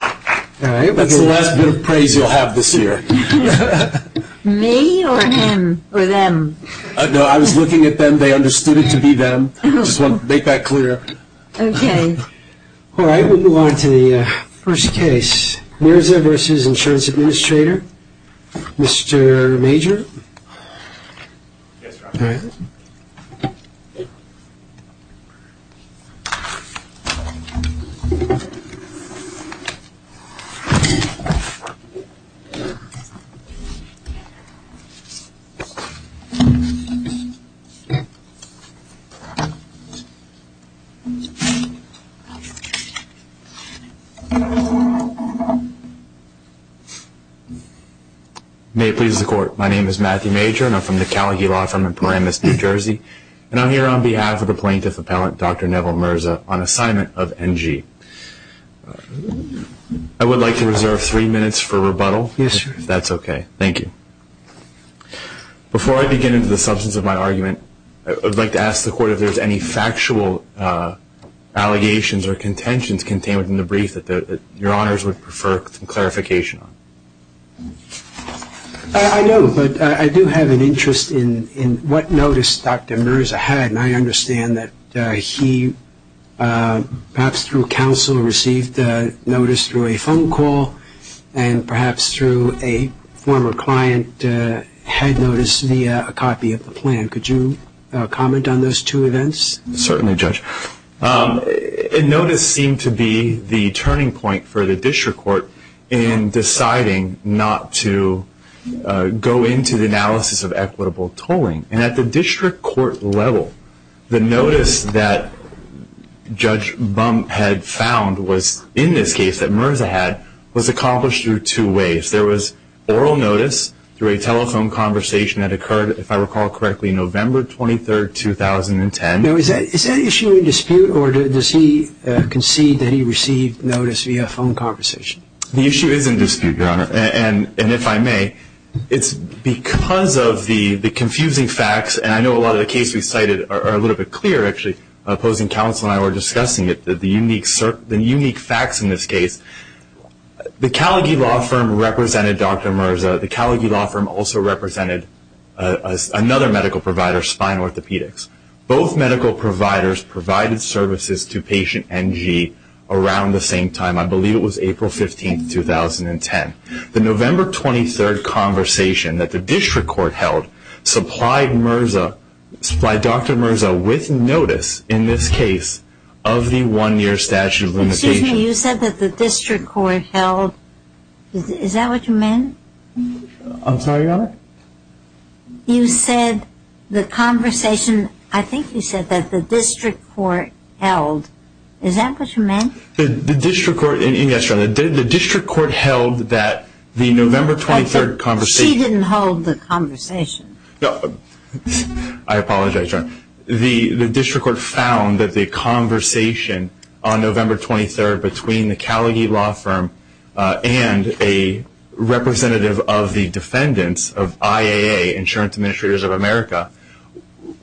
That's the last bit of praise you'll have this year. Me, or him, or them? No, I was looking at them. They understood it to be them. I just want to make that clear. Okay. All right, we'll move on to the first case. MirzaV.InsuranceAdministrator. Mr. Major. Yes, Dr. Neville. May it please the Court. My name is Matthew Major, and I'm from the Calagay Law Firm in Paramus, New Jersey. And I'm here on behalf of the Plaintiff Appellant, Dr. Neville Mirza, on assignment of NG. I would like to reserve three minutes for rebuttal. Yes, sir. If that's okay. Thank you. Before I begin into the substance of my argument, I would like to ask the Court if there's any factual allegations or contentions contained within the brief that Your Honors would prefer some clarification on. I know, but I do have an interest in what notice Dr. Mirza had, and I understand that he perhaps through counsel received the notice through a phone call and perhaps through a former client had noticed via a copy of the plan. Could you comment on those two events? Certainly, Judge. A notice seemed to be the turning point for the District Court in deciding not to go into the analysis of equitable tolling. And at the District Court level, the notice that Judge Bump had found was, in this case that Mirza had, was accomplished through two ways. There was oral notice through a telephone conversation that occurred, if I recall correctly, November 23, 2010. Now, is that issue in dispute, or does he concede that he received notice via a phone conversation? The issue is in dispute, Your Honor. And if I may, it's because of the confusing facts, and I know a lot of the cases we cited are a little bit clearer, actually, opposing counsel and I were discussing it, the unique facts in this case. The Callagy Law Firm represented Dr. Mirza. The Callagy Law Firm also represented another medical provider, Spine Orthopedics. Both medical providers provided services to patient NG around the same time. I believe it was April 15, 2010. The November 23 conversation that the District Court held supplied Dr. Mirza with notice in this case of the one-year statute of limitations. Excuse me. You said that the District Court held. Is that what you meant? I'm sorry, Your Honor. You said the conversation. I think you said that the District Court held. Is that what you meant? The District Court held that the November 23 conversation. She didn't hold the conversation. I apologize, Your Honor. The District Court found that the conversation on November 23 between the Callagy Law Firm and a representative of the defendants of IAA, Insurance Administrators of America,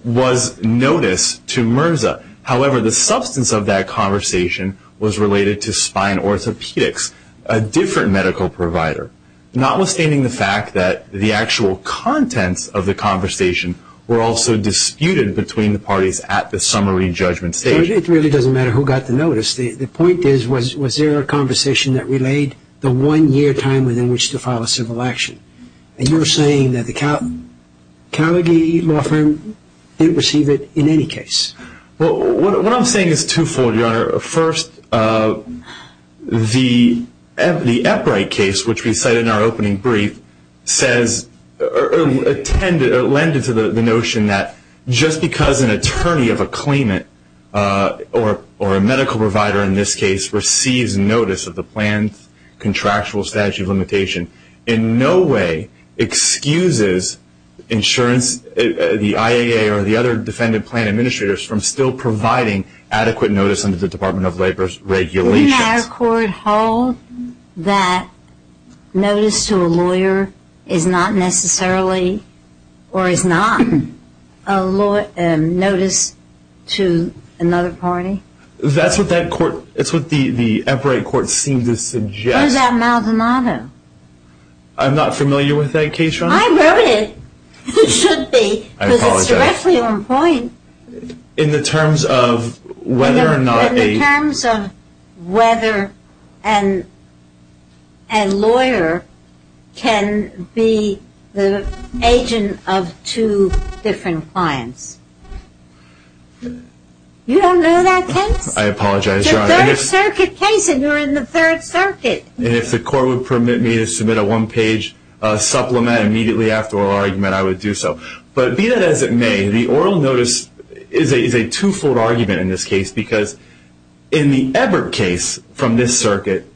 was notice to Mirza. However, the substance of that conversation was related to Spine Orthopedics, a different medical provider, notwithstanding the fact that the actual contents of the conversation were also disputed between the parties at the summary judgment stage. It really doesn't matter who got the notice. The point is, was there a conversation that relayed the one-year time within which to file a civil action? And you're saying that the Callagy Law Firm didn't receive it in any case. Well, what I'm saying is twofold, Your Honor. First, the Eprite case, which we cited in our opening brief, lended to the notion that just because an attorney of a claimant, or a medical provider in this case, receives notice of the plan's contractual statute of limitation, in no way excuses the IAA or the other defendant plan administrators from still providing adequate notice under the Department of Labor's regulations. Does our court hold that notice to a lawyer is not necessarily, or is not a notice to another party? That's what the Eprite court seemed to suggest. What about Maldonado? I'm not familiar with that case, Your Honor. I wrote it. You should be. I apologize. Because it's directly on point. In the terms of whether or not a lawyer can be the agent of two different clients. You don't know that case? I apologize, Your Honor. It's a Third Circuit case, and you're in the Third Circuit. And if the court would permit me to submit a one-page supplement immediately after our argument, I would do so. But be that as it may, the oral notice is a two-fold argument in this case, because in the Ebert case from this circuit,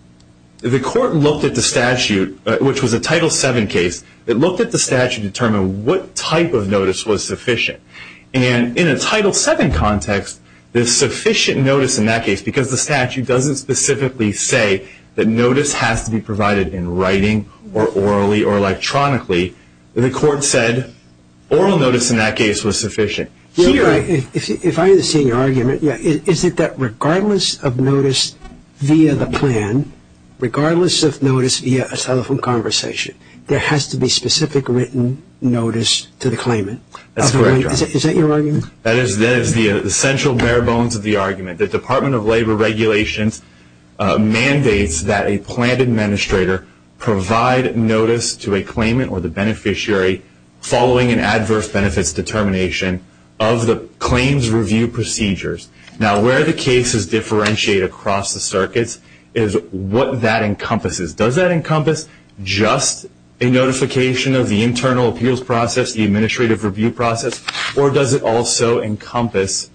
the court looked at the statute, which was a Title VII case. It looked at the statute to determine what type of notice was sufficient. And in a Title VII context, the sufficient notice in that case, because the statute doesn't specifically say that notice has to be provided in writing, or orally, or electronically, the court said oral notice in that case was sufficient. If I understand your argument, is it that regardless of notice via the plan, regardless of notice via a telephone conversation, there has to be specific written notice to the claimant? That's correct. Is that your argument? That is the central bare bones of the argument. The Department of Labor regulations mandates that a planned administrator provide notice to a claimant or the beneficiary following an adverse benefits determination of the claims review procedures. Now, where the cases differentiate across the circuits is what that encompasses. Does that encompass just a notification of the internal appeals process, the administrative review process, or does it also encompass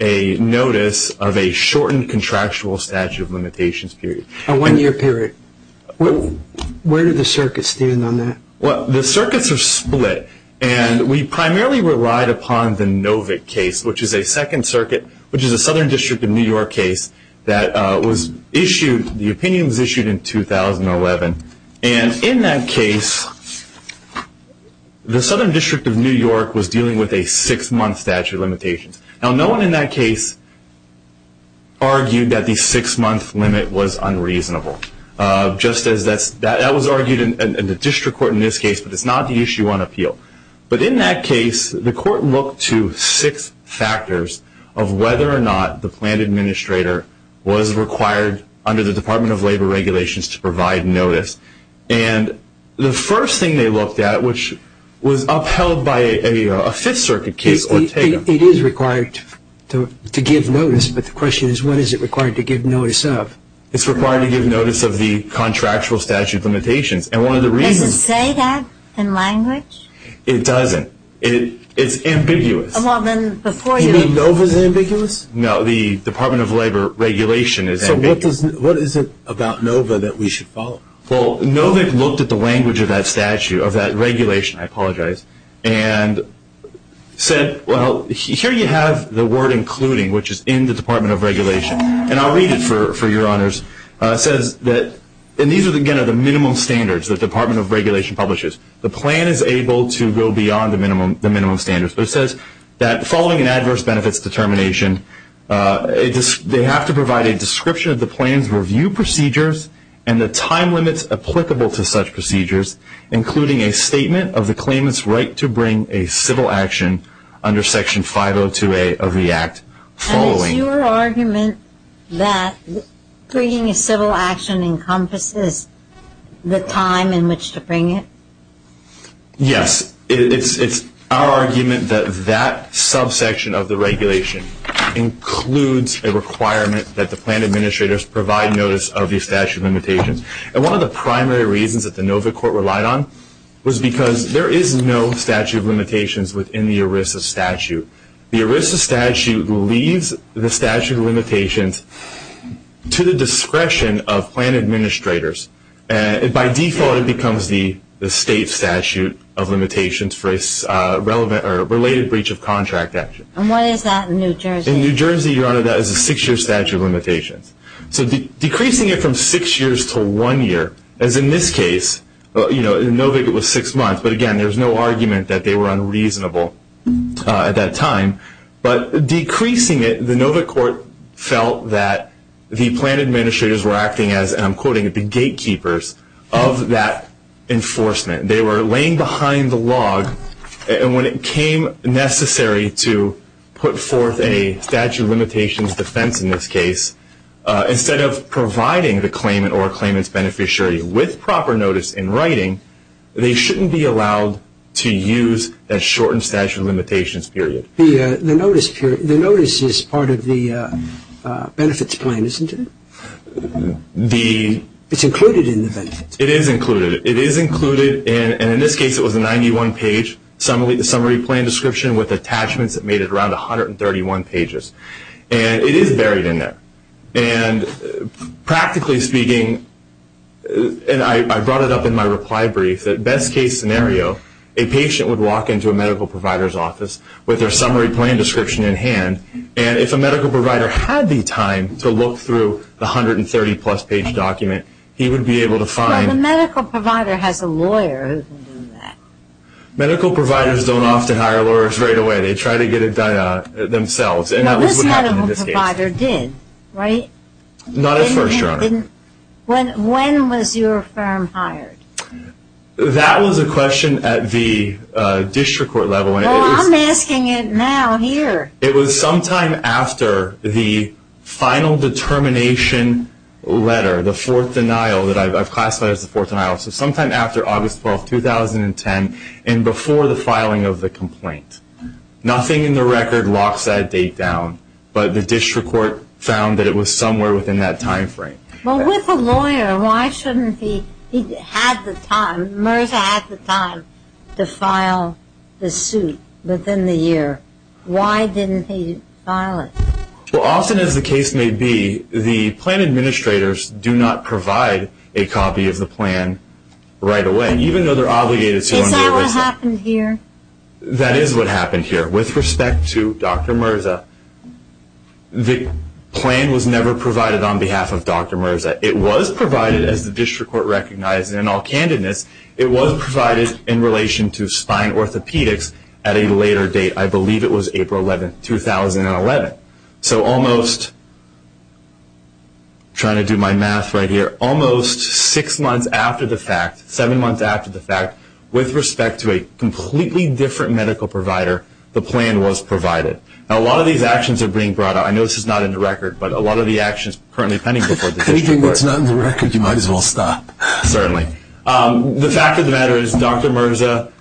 a notice of a shortened contractual statute of limitations period? A one-year period. Where do the circuits stand on that? Well, the circuits are split. And we primarily relied upon the Novick case, which is a second circuit, which is a Southern District of New York case that was issued, the opinion was issued in 2011. And in that case, the Southern District of New York was dealing with a six-month statute of limitations. Now, no one in that case argued that the six-month limit was unreasonable. That was argued in the district court in this case, but it's not the issue on appeal. But in that case, the court looked to six factors of whether or not the planned administrator was required under the Department of Labor regulations to provide notice. And the first thing they looked at, which was upheld by a Fifth Circuit case, Ortega. It is required to give notice, but the question is, what is it required to give notice of? It's required to give notice of the contractual statute of limitations. Does it say that in language? It doesn't. It's ambiguous. You mean NOVA's ambiguous? No, the Department of Labor regulation is ambiguous. So what is it about NOVA that we should follow? Well, NOVA looked at the language of that statute, of that regulation, I apologize, and said, well, here you have the word including, which is in the Department of Regulation. And I'll read it for your honors. It says that, and these, again, are the minimum standards the Department of Regulation publishes. The plan is able to go beyond the minimum standards. It says that following an adverse benefits determination, they have to provide a description of the plan's review procedures and the time limits applicable to such procedures, including a statement of the claimant's right to bring a civil action under Section 502A of the Act following. And it's your argument that bringing a civil action encompasses the time in which to bring it? Yes. It's our argument that that subsection of the regulation includes a requirement that the plan administrators provide notice of the statute of limitations. And one of the primary reasons that the NOVA court relied on was because there is no statute of limitations within the ERISA statute. The ERISA statute leaves the statute of limitations to the discretion of plan administrators. By default, it becomes the state statute of limitations for a related breach of contract action. And what is that in New Jersey? In New Jersey, Your Honor, that is a six-year statute of limitations. So decreasing it from six years to one year, as in this case, in NOVA it was six months. But, again, there's no argument that they were unreasonable at that time. But decreasing it, the NOVA court felt that the plan administrators were acting as, and I'm quoting it, the gatekeepers of that enforcement. They were laying behind the log. And when it came necessary to put forth a statute of limitations defense in this case, instead of providing the claimant or claimant's beneficiary with proper notice in writing, they shouldn't be allowed to use that shortened statute of limitations period. The notice is part of the benefits plan, isn't it? It's included in the benefits. It is included. It is included, and in this case it was a 91-page summary plan description with attachments that made it around 131 pages. And it is buried in there. And practically speaking, and I brought it up in my reply brief, that best-case scenario, a patient would walk into a medical provider's office with their summary plan description in hand, and if a medical provider had the time to look through the 130-plus page document, he would be able to find... Well, the medical provider has a lawyer who can do that. Medical providers don't often hire lawyers right away. They try to get it done themselves. Well, this medical provider did, right? Not at first, Your Honor. When was your firm hired? That was a question at the district court level. Well, I'm asking it now here. It was sometime after the final determination letter, the fourth denial, that I've classified as the fourth denial, so sometime after August 12, 2010 and before the filing of the complaint. Nothing in the record locks that date down, but the district court found that it was somewhere within that time frame. Well, with a lawyer, why shouldn't he have the time, MRSA had the time to file the suit within the year? Why didn't he file it? Well, often, as the case may be, the plan administrators do not provide a copy of the plan right away, even though they're obligated to on daily basis. Is that what happened here? That is what happened here. With respect to Dr. MRSA, the plan was never provided on behalf of Dr. MRSA. It was provided, as the district court recognized in all candidness, it was provided in relation to spine orthopedics at a later date. I believe it was April 11, 2011. So almost, trying to do my math right here, almost six months after the fact, seven months after the fact, with respect to a completely different medical provider, the plan was provided. Now, a lot of these actions are being brought up. I know this is not in the record, but a lot of the actions currently pending before the district court. If you think that's not in the record, you might as well stop. Certainly. The fact of the matter is Dr. MRSA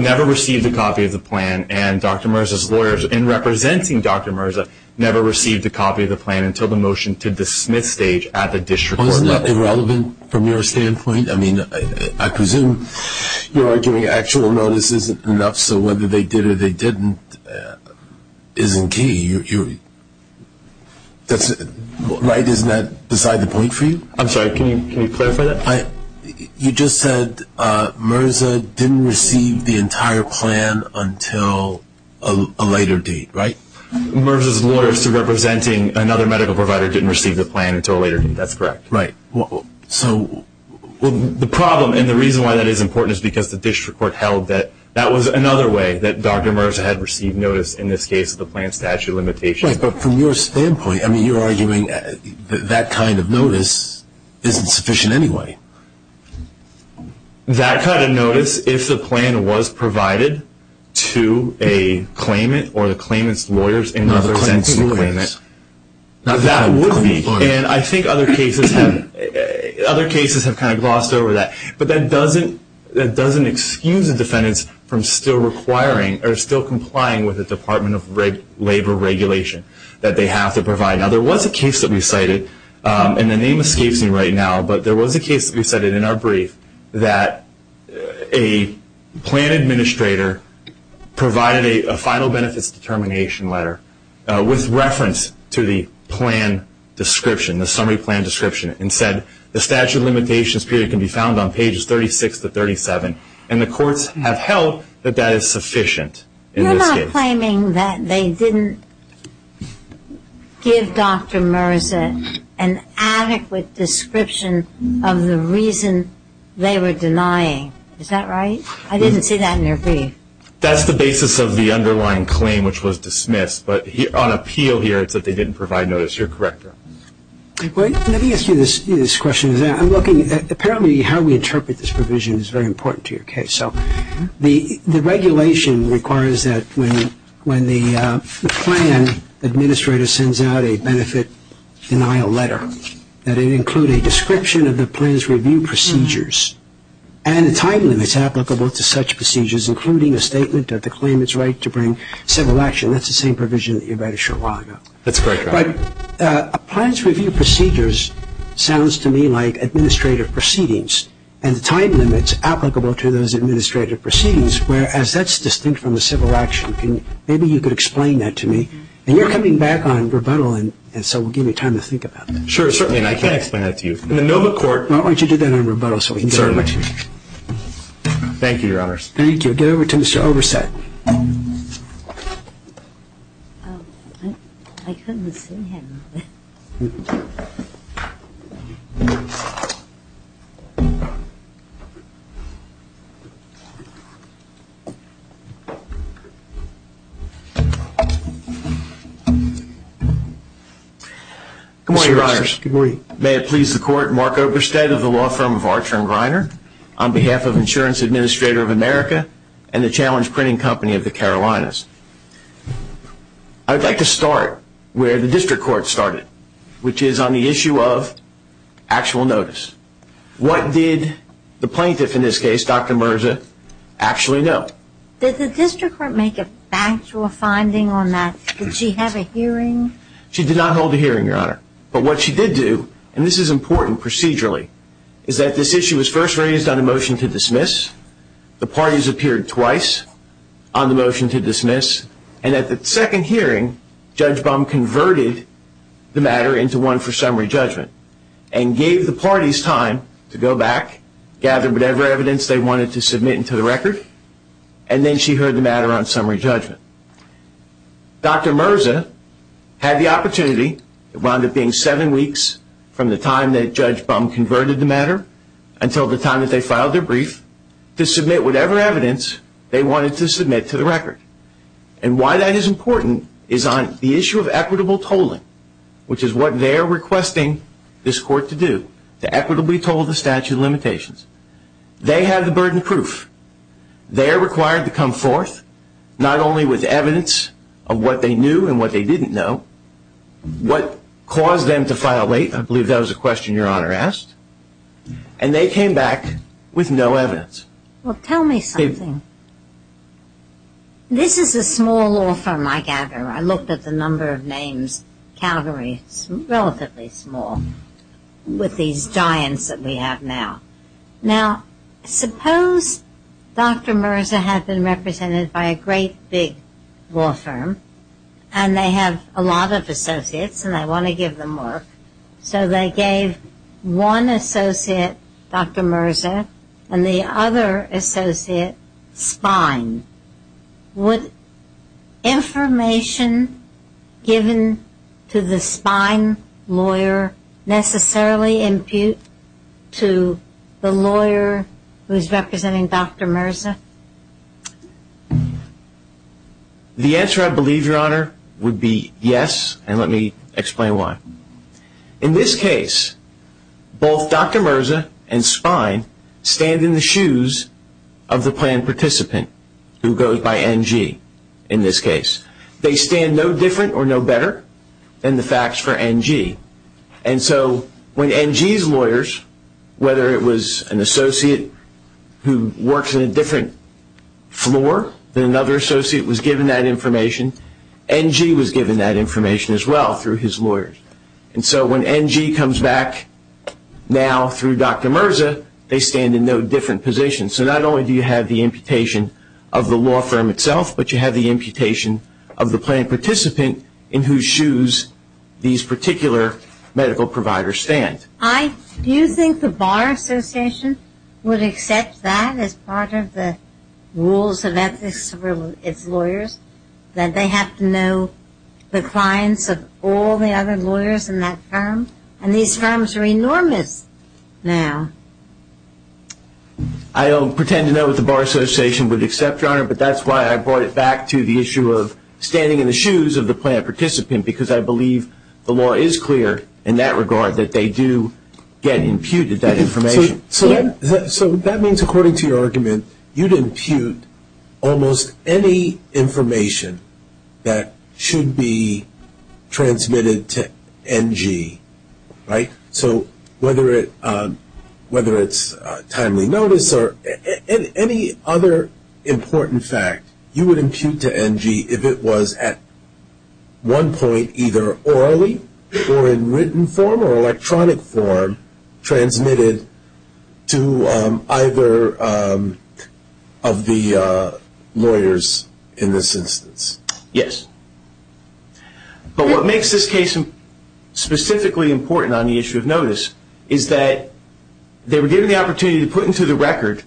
never received a copy of the plan and Dr. MRSA's lawyers, in representing Dr. MRSA, never received a copy of the plan until the motion to dismiss stage at the district court level. Isn't that irrelevant from your standpoint? I mean, I presume you're arguing actual notice isn't enough, so whether they did or they didn't isn't key, right? Isn't that beside the point for you? I'm sorry, can you clarify that? You just said MRSA didn't receive the entire plan until a later date, right? MRSA's lawyers, representing another medical provider, didn't receive the plan until a later date, that's correct. Right. So the problem and the reason why that is important is because the district court held that that was another way that Dr. MRSA had received notice, in this case the plan statute limitation. That's right, but from your standpoint, I mean, you're arguing that that kind of notice isn't sufficient anyway. That kind of notice, if the plan was provided to a claimant or the claimant's lawyers in another sense of the word, that would be. And I think other cases have kind of glossed over that, but that doesn't excuse the defendants from still requiring or still complying with the Department of Labor regulation that they have to provide. Now, there was a case that we cited, and the name escapes me right now, but there was a case that we cited in our brief that a plan administrator provided a final benefits determination letter with reference to the plan description, the summary plan description, and said the statute of limitations period can be found on pages 36 to 37, and the courts have held that that is sufficient in this case. You're not claiming that they didn't give Dr. MRSA an adequate description of the reason they were denying. Is that right? I didn't see that in your brief. That's the basis of the underlying claim, which was dismissed, but on appeal here it's that they didn't provide notice. You're correct. Let me ask you this question. Apparently how we interpret this provision is very important to your case. So the regulation requires that when the plan administrator sends out a benefit denial letter, that it include a description of the plan's review procedures and the time limits applicable to such procedures, including a statement of the claimant's right to bring civil action. That's the same provision that you write a short while ago. That's correct. But a plan's review procedures sounds to me like administrative proceedings and the time limits applicable to those administrative proceedings, whereas that's distinct from the civil action. Maybe you could explain that to me. And you're coming back on rebuttal, and so we'll give you time to think about that. Sure, certainly. And I can explain that to you. In the NOMA court. Why don't you do that on rebuttal so we can get over to you. Thank you, Your Honors. Thank you. Get over to Mr. Oversett. Oh, I couldn't see him. Good morning, Your Honors. Good morning. May it please the Court, Mark Oversett of the law firm of Archer & Greiner, on behalf of Insurance Administrator of America and the Challenge Printing Company of the Carolinas. I would like to start where the district court started, which is on the issue of actual notice. What did the plaintiff, in this case, Dr. Merza, actually know? Did the district court make a factual finding on that? Did she have a hearing? She did not hold a hearing, Your Honor. But what she did do, and this is important procedurally, is that this issue was first raised on a motion to dismiss. The parties appeared twice on the motion to dismiss, and at the second hearing, Judge Bum converted the matter into one for summary judgment and gave the parties time to go back, gather whatever evidence they wanted to submit into the record, and then she heard the matter on summary judgment. Dr. Merza had the opportunity. It wound up being seven weeks from the time that Judge Bum converted the matter until the time that they filed their brief to submit whatever evidence they wanted to submit to the record. And why that is important is on the issue of equitable tolling, which is what they are requesting this court to do, to equitably toll the statute of limitations. They have the burden of proof. They are required to come forth not only with evidence of what they knew and what they didn't know, what caused them to file late, I believe that was a question Your Honor asked, and they came back with no evidence. Well, tell me something. This is a small law firm, I gather. I looked at the number of names, Calgary is relatively small with these giants that we have now. Now, suppose Dr. Merza had been represented by a great big law firm and they have a lot of associates and they want to give them work, so they gave one associate, Dr. Merza, and the other associate, Spine. Would information given to the Spine lawyer necessarily impute to the lawyer who is representing Dr. Merza? The answer, I believe, Your Honor, would be yes, and let me explain why. In this case, both Dr. Merza and Spine stand in the shoes of the plan participant, who goes by NG in this case. They stand no different or no better than the facts for NG, and so when NG's lawyers, whether it was an associate who works in a different floor than another associate was given that information, NG was given that information as well through his lawyers. And so when NG comes back now through Dr. Merza, they stand in no different positions. So not only do you have the imputation of the law firm itself, but you have the imputation of the plan participant in whose shoes these particular medical providers stand. Do you think the Bar Association would accept that as part of the rules of ethics for its lawyers, that they have to know the clients of all the other lawyers in that firm? And these firms are enormous now. I don't pretend to know what the Bar Association would accept, Your Honor, but that's why I brought it back to the issue of standing in the shoes of the plan participant, because I believe the law is clear in that regard, that they do get imputed that information. So that means, according to your argument, you'd impute almost any information that should be transmitted to NG, right? So whether it's timely notice or any other important fact, you would impute to NG if it was at one point either orally or in written form or electronic form transmitted to either of the lawyers in this instance. Yes. But what makes this case specifically important on the issue of notice is that they were given the opportunity to put into the record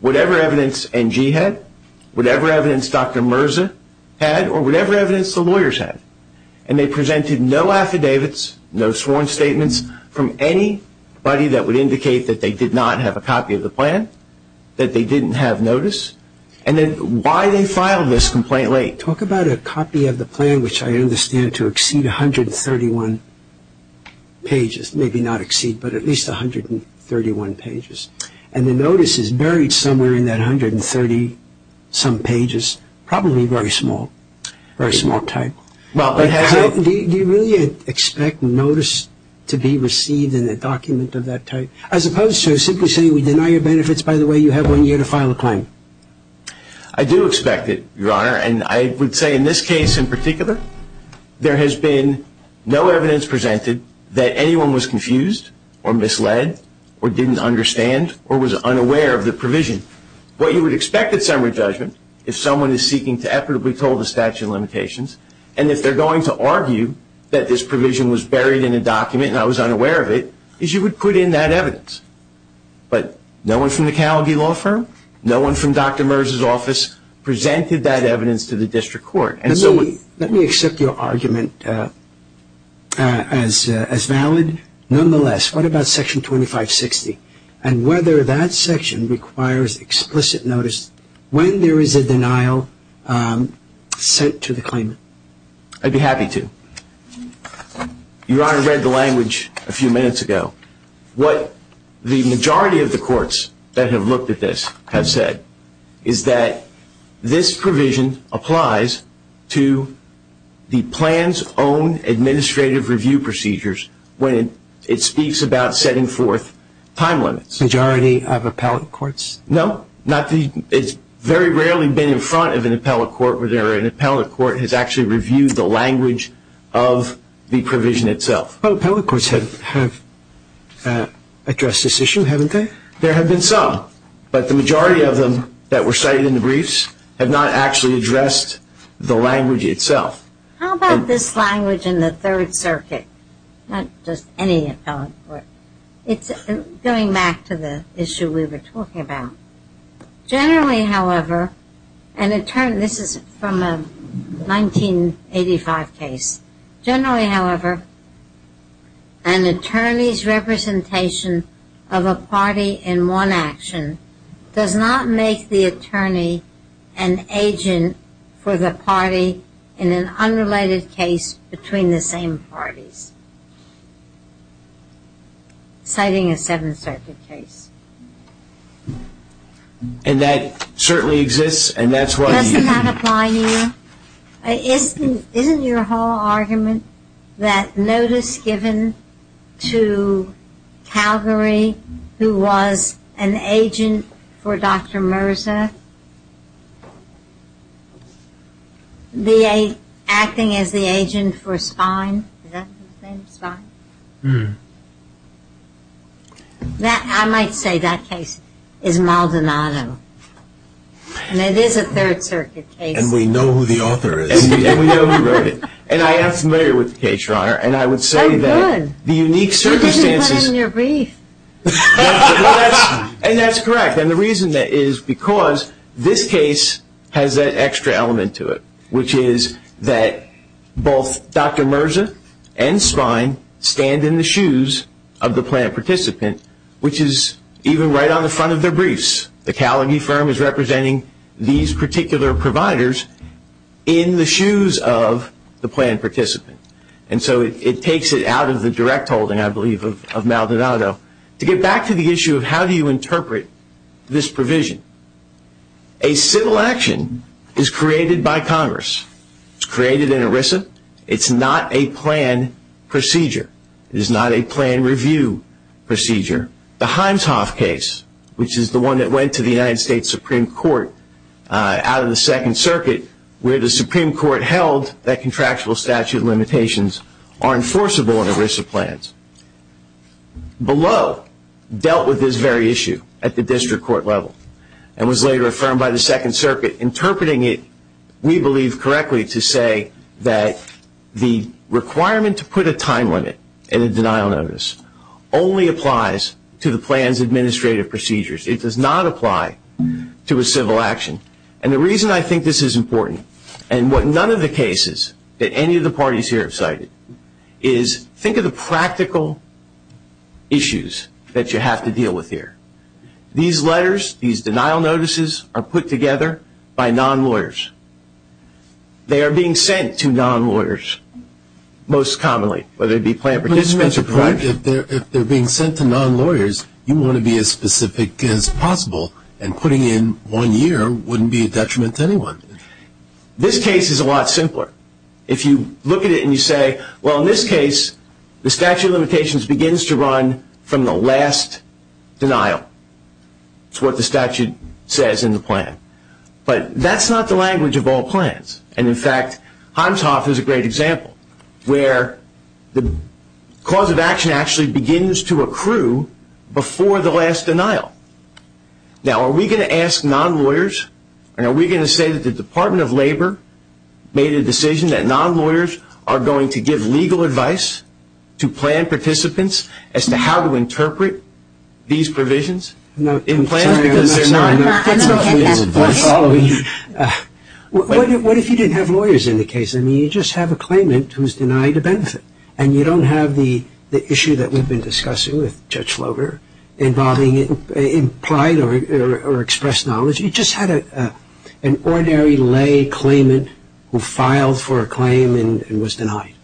whatever evidence NG had, whatever evidence Dr. Mirza had, or whatever evidence the lawyers had, and they presented no affidavits, no sworn statements, from anybody that would indicate that they did not have a copy of the plan, that they didn't have notice, and then why they filed this complaint late. Talk about a copy of the plan, which I understand to exceed 131 pages. Maybe not exceed, but at least 131 pages. And the notice is buried somewhere in that 130-some pages, probably very small, very small type. Do you really expect notice to be received in a document of that type, as opposed to simply saying we deny your benefits, by the way, you have one year to file a claim? I do expect it, Your Honor, and I would say in this case in particular, there has been no evidence presented that anyone was confused or misled or didn't understand or was unaware of the provision. What you would expect at summary judgment, if someone is seeking to effortably told the statute of limitations, and if they're going to argue that this provision was buried in a document and I was unaware of it, is you would put in that evidence. But no one from the Calgary Law Firm, no one from Dr. Mirza's office presented that evidence to the district court. Let me accept your argument as valid. Nonetheless, what about Section 2560 and whether that section requires explicit notice when there is a denial sent to the claimant? I'd be happy to. Your Honor read the language a few minutes ago. What the majority of the courts that have looked at this have said is that this provision applies to the plan's own administrative review procedures when it speaks about setting forth time limits. Majority of appellate courts? No. It's very rarely been in front of an appellate court where an appellate court has actually reviewed the language of the provision itself. Appellate courts have addressed this issue, haven't they? There have been some, but the majority of them that were cited in the briefs have not actually addressed the language itself. How about this language in the Third Circuit? Not just any appellate court. It's going back to the issue we were talking about. Generally, however, this is from a 1985 case. Generally, however, an attorney's representation of a party in one action does not make the attorney an agent for the party in an unrelated case between the same parties. Citing a Seventh Circuit case. And that certainly exists and that's why... Doesn't that apply to you? Isn't your whole argument that notice given to Calgary, who was an agent for Dr. Mirza, acting as the agent for Spine? Is that the name? Spine? I might say that case is Maldonado. And it is a Third Circuit case. And we know who the author is. And we know who wrote it. And I am familiar with the case, Your Honor. And I would say that the unique circumstances... You can't even put it in your brief. And that's correct. And the reason is because this case has that extra element to it, which is that both Dr. Mirza and Spine stand in the shoes of the planned participant, which is even right on the front of their briefs. The Calgary firm is representing these particular providers in the shoes of the planned participant. And so it takes it out of the direct holding, I believe, of Maldonado to get back to the issue of how do you interpret this provision. A civil action is created by Congress. It's created in ERISA. It's not a plan procedure. It is not a plan review procedure. The Himes-Hoff case, which is the one that went to the United States Supreme Court out of the Second Circuit, where the Supreme Court held that contractual statute limitations are enforceable in ERISA plans, below dealt with this very issue at the district court level and was later affirmed by the Second Circuit, interpreting it, we believe, correctly to say that the requirement to put a time limit in a denial notice only applies to the plan's administrative procedures. It does not apply to a civil action. And the reason I think this is important, and what none of the cases that any of the parties here have cited, is think of the practical issues that you have to deal with here. These letters, these denial notices, are put together by non-lawyers. They are being sent to non-lawyers most commonly, whether it be plan participants or private. But isn't that the point? If they're being sent to non-lawyers, you want to be as specific as possible, and putting in one year wouldn't be a detriment to anyone. This case is a lot simpler. If you look at it and you say, well, in this case, the statute of limitations begins to run from the last denial. It's what the statute says in the plan. But that's not the language of all plans. And, in fact, Himeshoff is a great example, where the cause of action actually begins to accrue before the last denial. Now, are we going to ask non-lawyers, and are we going to say that the Department of Labor made a decision that non-lawyers are going to give legal advice to plan participants as to how to interpret these provisions? I'm sorry, I'm not following you. What if you didn't have lawyers in the case? I mean, you just have a claimant who's denied a benefit, and you don't have the issue that we've been discussing with Judge Floger involving implied or expressed knowledge. You just had an ordinary lay claimant who filed for a claim and was denied.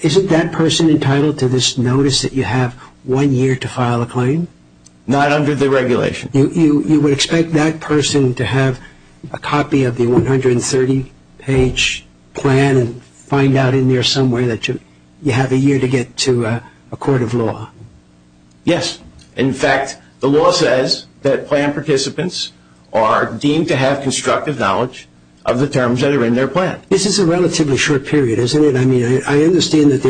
Isn't that person entitled to this notice that you have one year to file a claim? Not under the regulation. You would expect that person to have a copy of the 130-page plan and find out in there somewhere that you have a year to get to a court of law? Yes. In fact, the law says that plan participants are deemed to have constructive knowledge of the terms that are in their plan. This is a relatively short period, isn't it? I mean, I understand that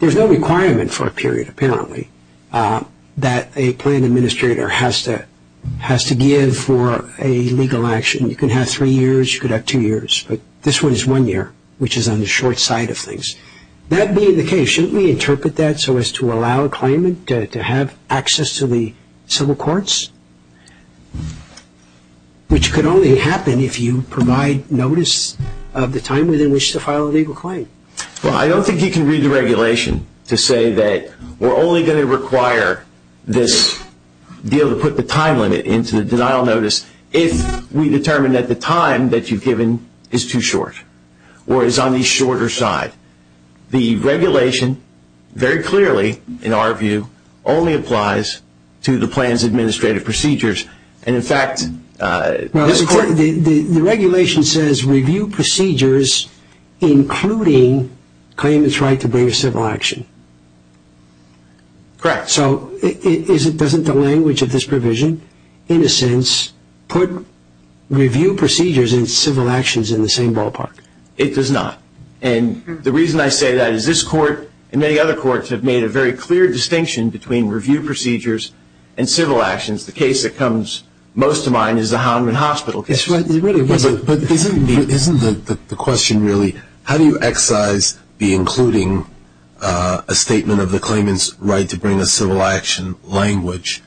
there's no requirement for a period, apparently, that a plan administrator has to give for a legal action. You can have three years. You could have two years. But this one is one year, which is on the short side of things. That being the case, shouldn't we interpret that so as to allow a claimant to have access to the civil courts, which could only happen if you provide notice of the time within which to file a legal claim? Well, I don't think you can read the regulation to say that we're only going to require this deal to put the time limit into the denial notice if we determine that the time that you've given is too short or is on the shorter side. The regulation very clearly, in our view, only applies to the plan's administrative procedures. And, in fact, this court- The regulation says review procedures, including claimant's right to bring a civil action. Correct. So doesn't the language of this provision, in a sense, put review procedures and civil actions in the same ballpark? It does not. And the reason I say that is this court and many other courts have made a very clear distinction between review procedures and civil actions. The case that comes most to mind is the Houndman Hospital case. But isn't the question really, how do you excise the including a statement of the claimant's right to bring a civil action language?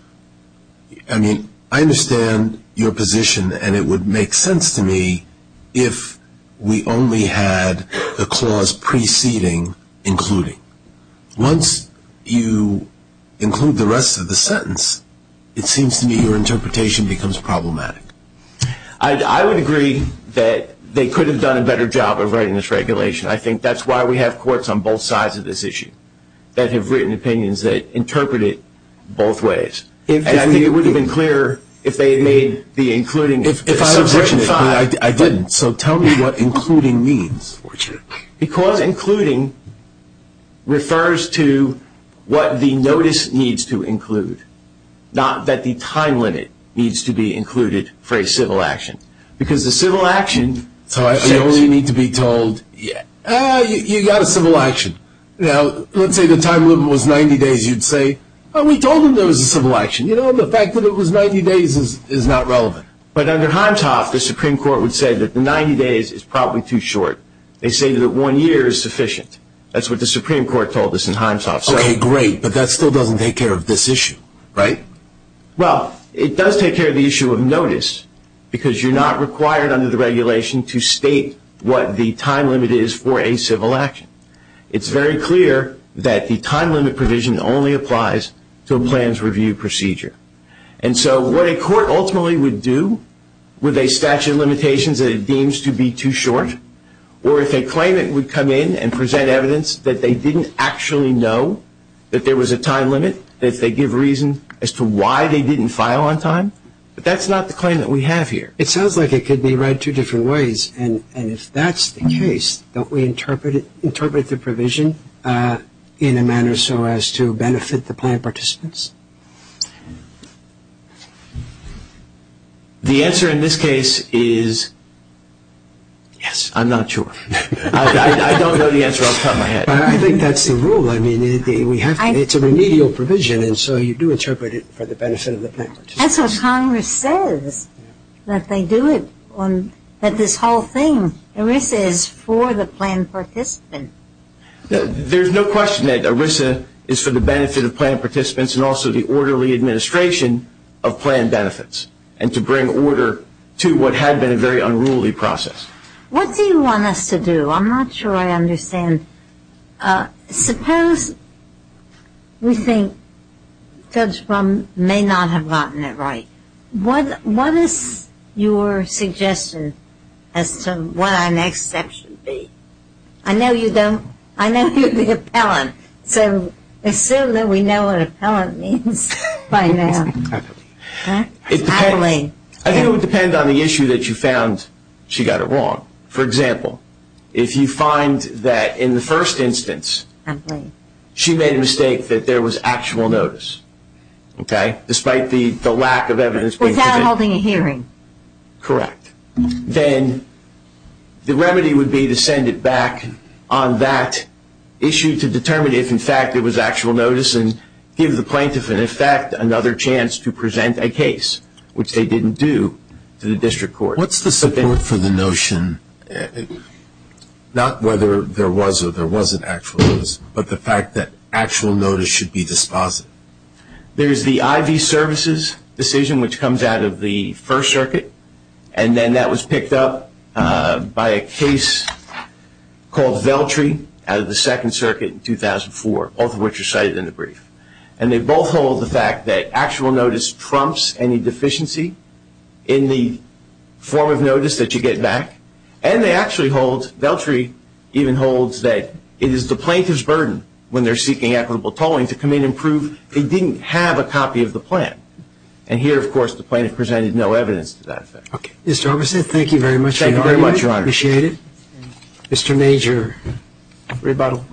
I mean, I understand your position and it would make sense to me if we only had the clause preceding including. Once you include the rest of the sentence, it seems to me your interpretation becomes problematic. I would agree that they could have done a better job of writing this regulation. I think that's why we have courts on both sides of this issue that have written opinions that interpret it both ways. And I think it would have been clearer if they had made the including- If I had written it, I didn't. So tell me what including means. Because including refers to what the notice needs to include, not that the time limit needs to be included for a civil action. Because a civil action- So I only need to be told, you got a civil action. Now, let's say the time limit was 90 days, you'd say, oh, we told him there was a civil action. You know, the fact that it was 90 days is not relevant. But under Himeshoff, the Supreme Court would say that the 90 days is probably too short. They say that one year is sufficient. That's what the Supreme Court told us in Himeshoff. Okay, great. But that still doesn't take care of this issue, right? Well, it does take care of the issue of notice because you're not required under the regulation to state what the time limit is for a civil action. It's very clear that the time limit provision only applies to a plans review procedure. And so what a court ultimately would do with a statute of limitations that it deems to be too short or if a claimant would come in and present evidence that they didn't actually know that there was a time limit, that they give reason as to why they didn't file on time, but that's not the claim that we have here. It sounds like it could be read two different ways. And if that's the case, don't we interpret the provision in a manner so as to benefit the plan participants? The answer in this case is yes. I'm not sure. I don't know the answer. I'll cut my head. I think that's the rule. I mean, it's a remedial provision, and so you do interpret it for the benefit of the plan participants. That's what Congress says, that they do it, that this whole thing, ERISA, is for the plan participant. There's no question that ERISA is for the benefit of plan participants and also the orderly administration of plan benefits and to bring order to what had been a very unruly process. What do you want us to do? I'm not sure I understand. Suppose we think Judge Blum may not have gotten it right. What is your suggestion as to what our next step should be? I know you're the appellant, so assume that we know what appellant means by now. I think it would depend on the issue that you found she got it wrong. For example, if you find that in the first instance she made a mistake that there was actual notice, okay, despite the lack of evidence being presented. Without holding a hearing. Correct. Then the remedy would be to send it back on that issue to determine if, in fact, there was actual notice and give the plaintiff, in effect, another chance to present a case, which they didn't do to the district court. What's the support for the notion, not whether there was or there wasn't actual notice, but the fact that actual notice should be disposed of? There's the IV services decision, which comes out of the First Circuit, and then that was picked up by a case called Veltri out of the Second Circuit in 2004, both of which are cited in the brief. And they both hold the fact that actual notice trumps any deficiency in the form of notice that you get back, and they actually hold, Veltri even holds, that it is the plaintiff's burden when they're seeking equitable tolling to come in and prove they didn't have a copy of the plan. And here, of course, the plaintiff presented no evidence to that effect. Okay. Mr. Armisen, thank you very much. Thank you very much, Your Honor. I appreciate it. Mr. Major. Rebuttal.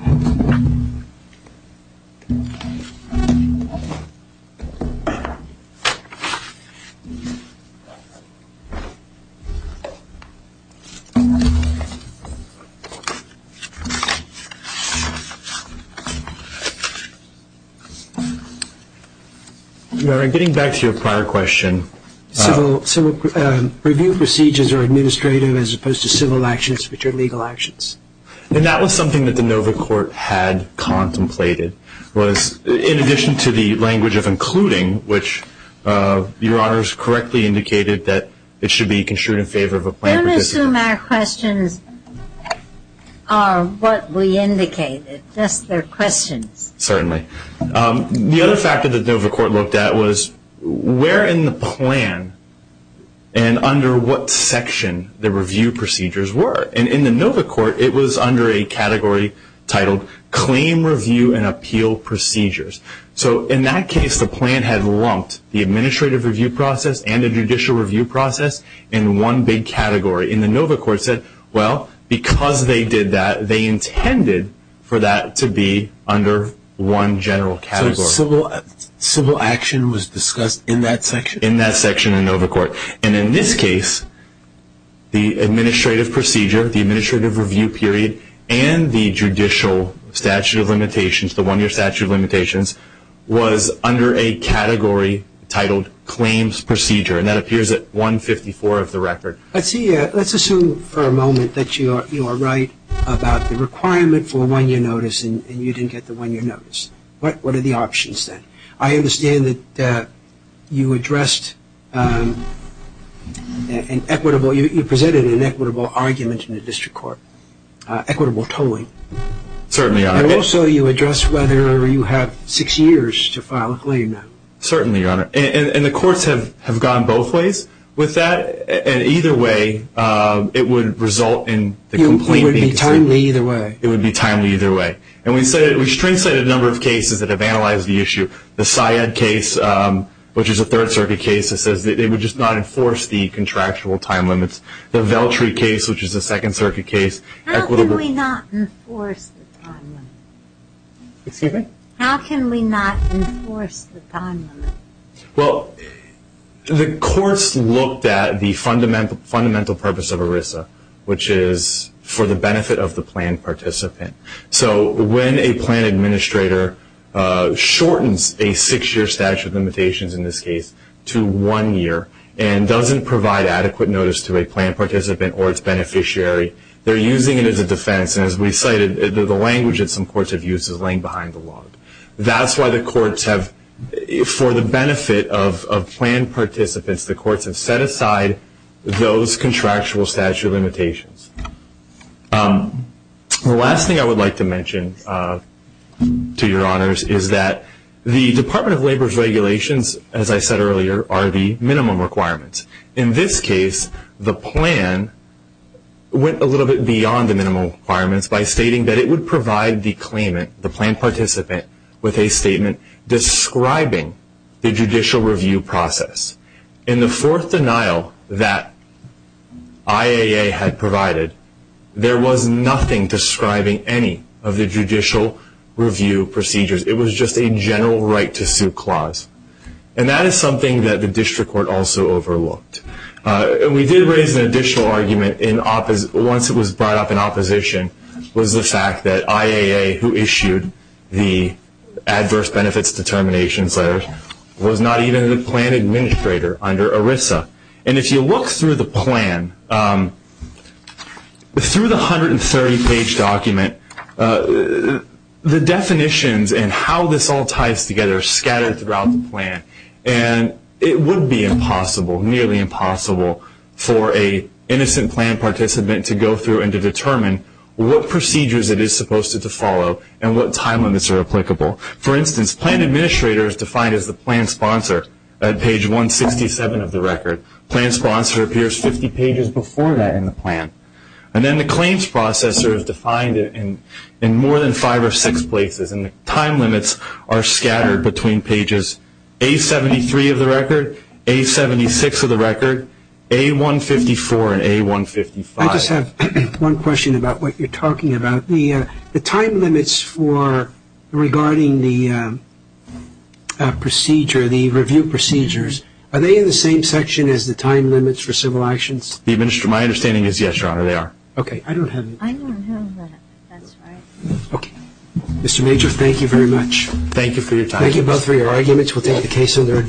Getting back to your prior question. Civil review procedures are administrative as opposed to civil actions, which are legal actions. And that was something that the Nova Court had contemplated, was in addition to the language of including, which Your Honor has correctly indicated that it should be construed in favor of a plaintiff. Don't assume our questions are what we indicated. Just they're questions. Certainly. The other factor that the Nova Court looked at was where in the plan and under what section the review procedures were. And in the Nova Court, it was under a category titled Claim Review and Appeal Procedures. So in that case, the plan had lumped the administrative review process and the judicial review process in one big category. And the Nova Court said, well, because they did that, they intended for that to be under one general category. So civil action was discussed in that section? In that section in Nova Court. And in this case, the administrative procedure, the administrative review period, and the judicial statute of limitations, the one-year statute of limitations, was under a category titled Claims Procedure. And that appears at 154 of the record. Let's assume for a moment that you are right about the requirement for a one-year notice and you didn't get the one-year notice. What are the options then? I understand that you addressed an equitable, you presented an equitable argument in the district court, equitable tolling. Certainly, Your Honor. And also you addressed whether you have six years to file a claim now. Certainly, Your Honor. And the courts have gone both ways with that. And either way, it would result in the complaint being decided. It would be timely either way. It would be timely either way. And we straight-sided a number of cases that have analyzed the issue. The Syed case, which is a Third Circuit case that says they would just not enforce the contractual time limits. The Veltri case, which is a Second Circuit case. How can we not enforce the time limits? Excuse me? How can we not enforce the time limits? Well, the courts looked at the fundamental purpose of ERISA, which is for the benefit of the plan participant. So when a plan administrator shortens a six-year statute of limitations in this case to one year and doesn't provide adequate notice to a plan participant or its beneficiary, they're using it as a defense. And as we cited, the language that some courts have used is laying behind the log. That's why the courts have, for the benefit of plan participants, the courts have set aside those contractual statute of limitations. The last thing I would like to mention, to your honors, is that the Department of Labor's regulations, as I said earlier, are the minimum requirements. In this case, the plan went a little bit beyond the minimum requirements by stating that it would provide the claimant, the plan participant, with a statement describing the judicial review process. In the fourth denial that IAA had provided, there was nothing describing any of the judicial review procedures. It was just a general right-to-sue clause. And that is something that the district court also overlooked. We did raise an additional argument once it was brought up in opposition, was the fact that IAA, who issued the adverse benefits determination letter, was not even the plan administrator under ERISA. And if you look through the plan, through the 130-page document, the definitions and how this all ties together are scattered throughout the plan. And it would be impossible, nearly impossible, for an innocent plan participant to go through and to determine what procedures it is supposed to follow and what time limits are applicable. For instance, plan administrator is defined as the plan sponsor at page 167 of the record. Plan sponsor appears 50 pages before that in the plan. And then the claims processor is defined in more than five or six places. And the time limits are scattered between pages A73 of the record, A76 of the record, A154, and A155. I just have one question about what you're talking about. The time limits for regarding the procedure, the review procedures, are they in the same section as the time limits for civil actions? My understanding is yes, Your Honor, they are. Okay. I don't have it. I don't have that. That's right. Okay. Mr. Major, thank you very much. Thank you for your time. Thank you both for your arguments. We'll take the case under advisement.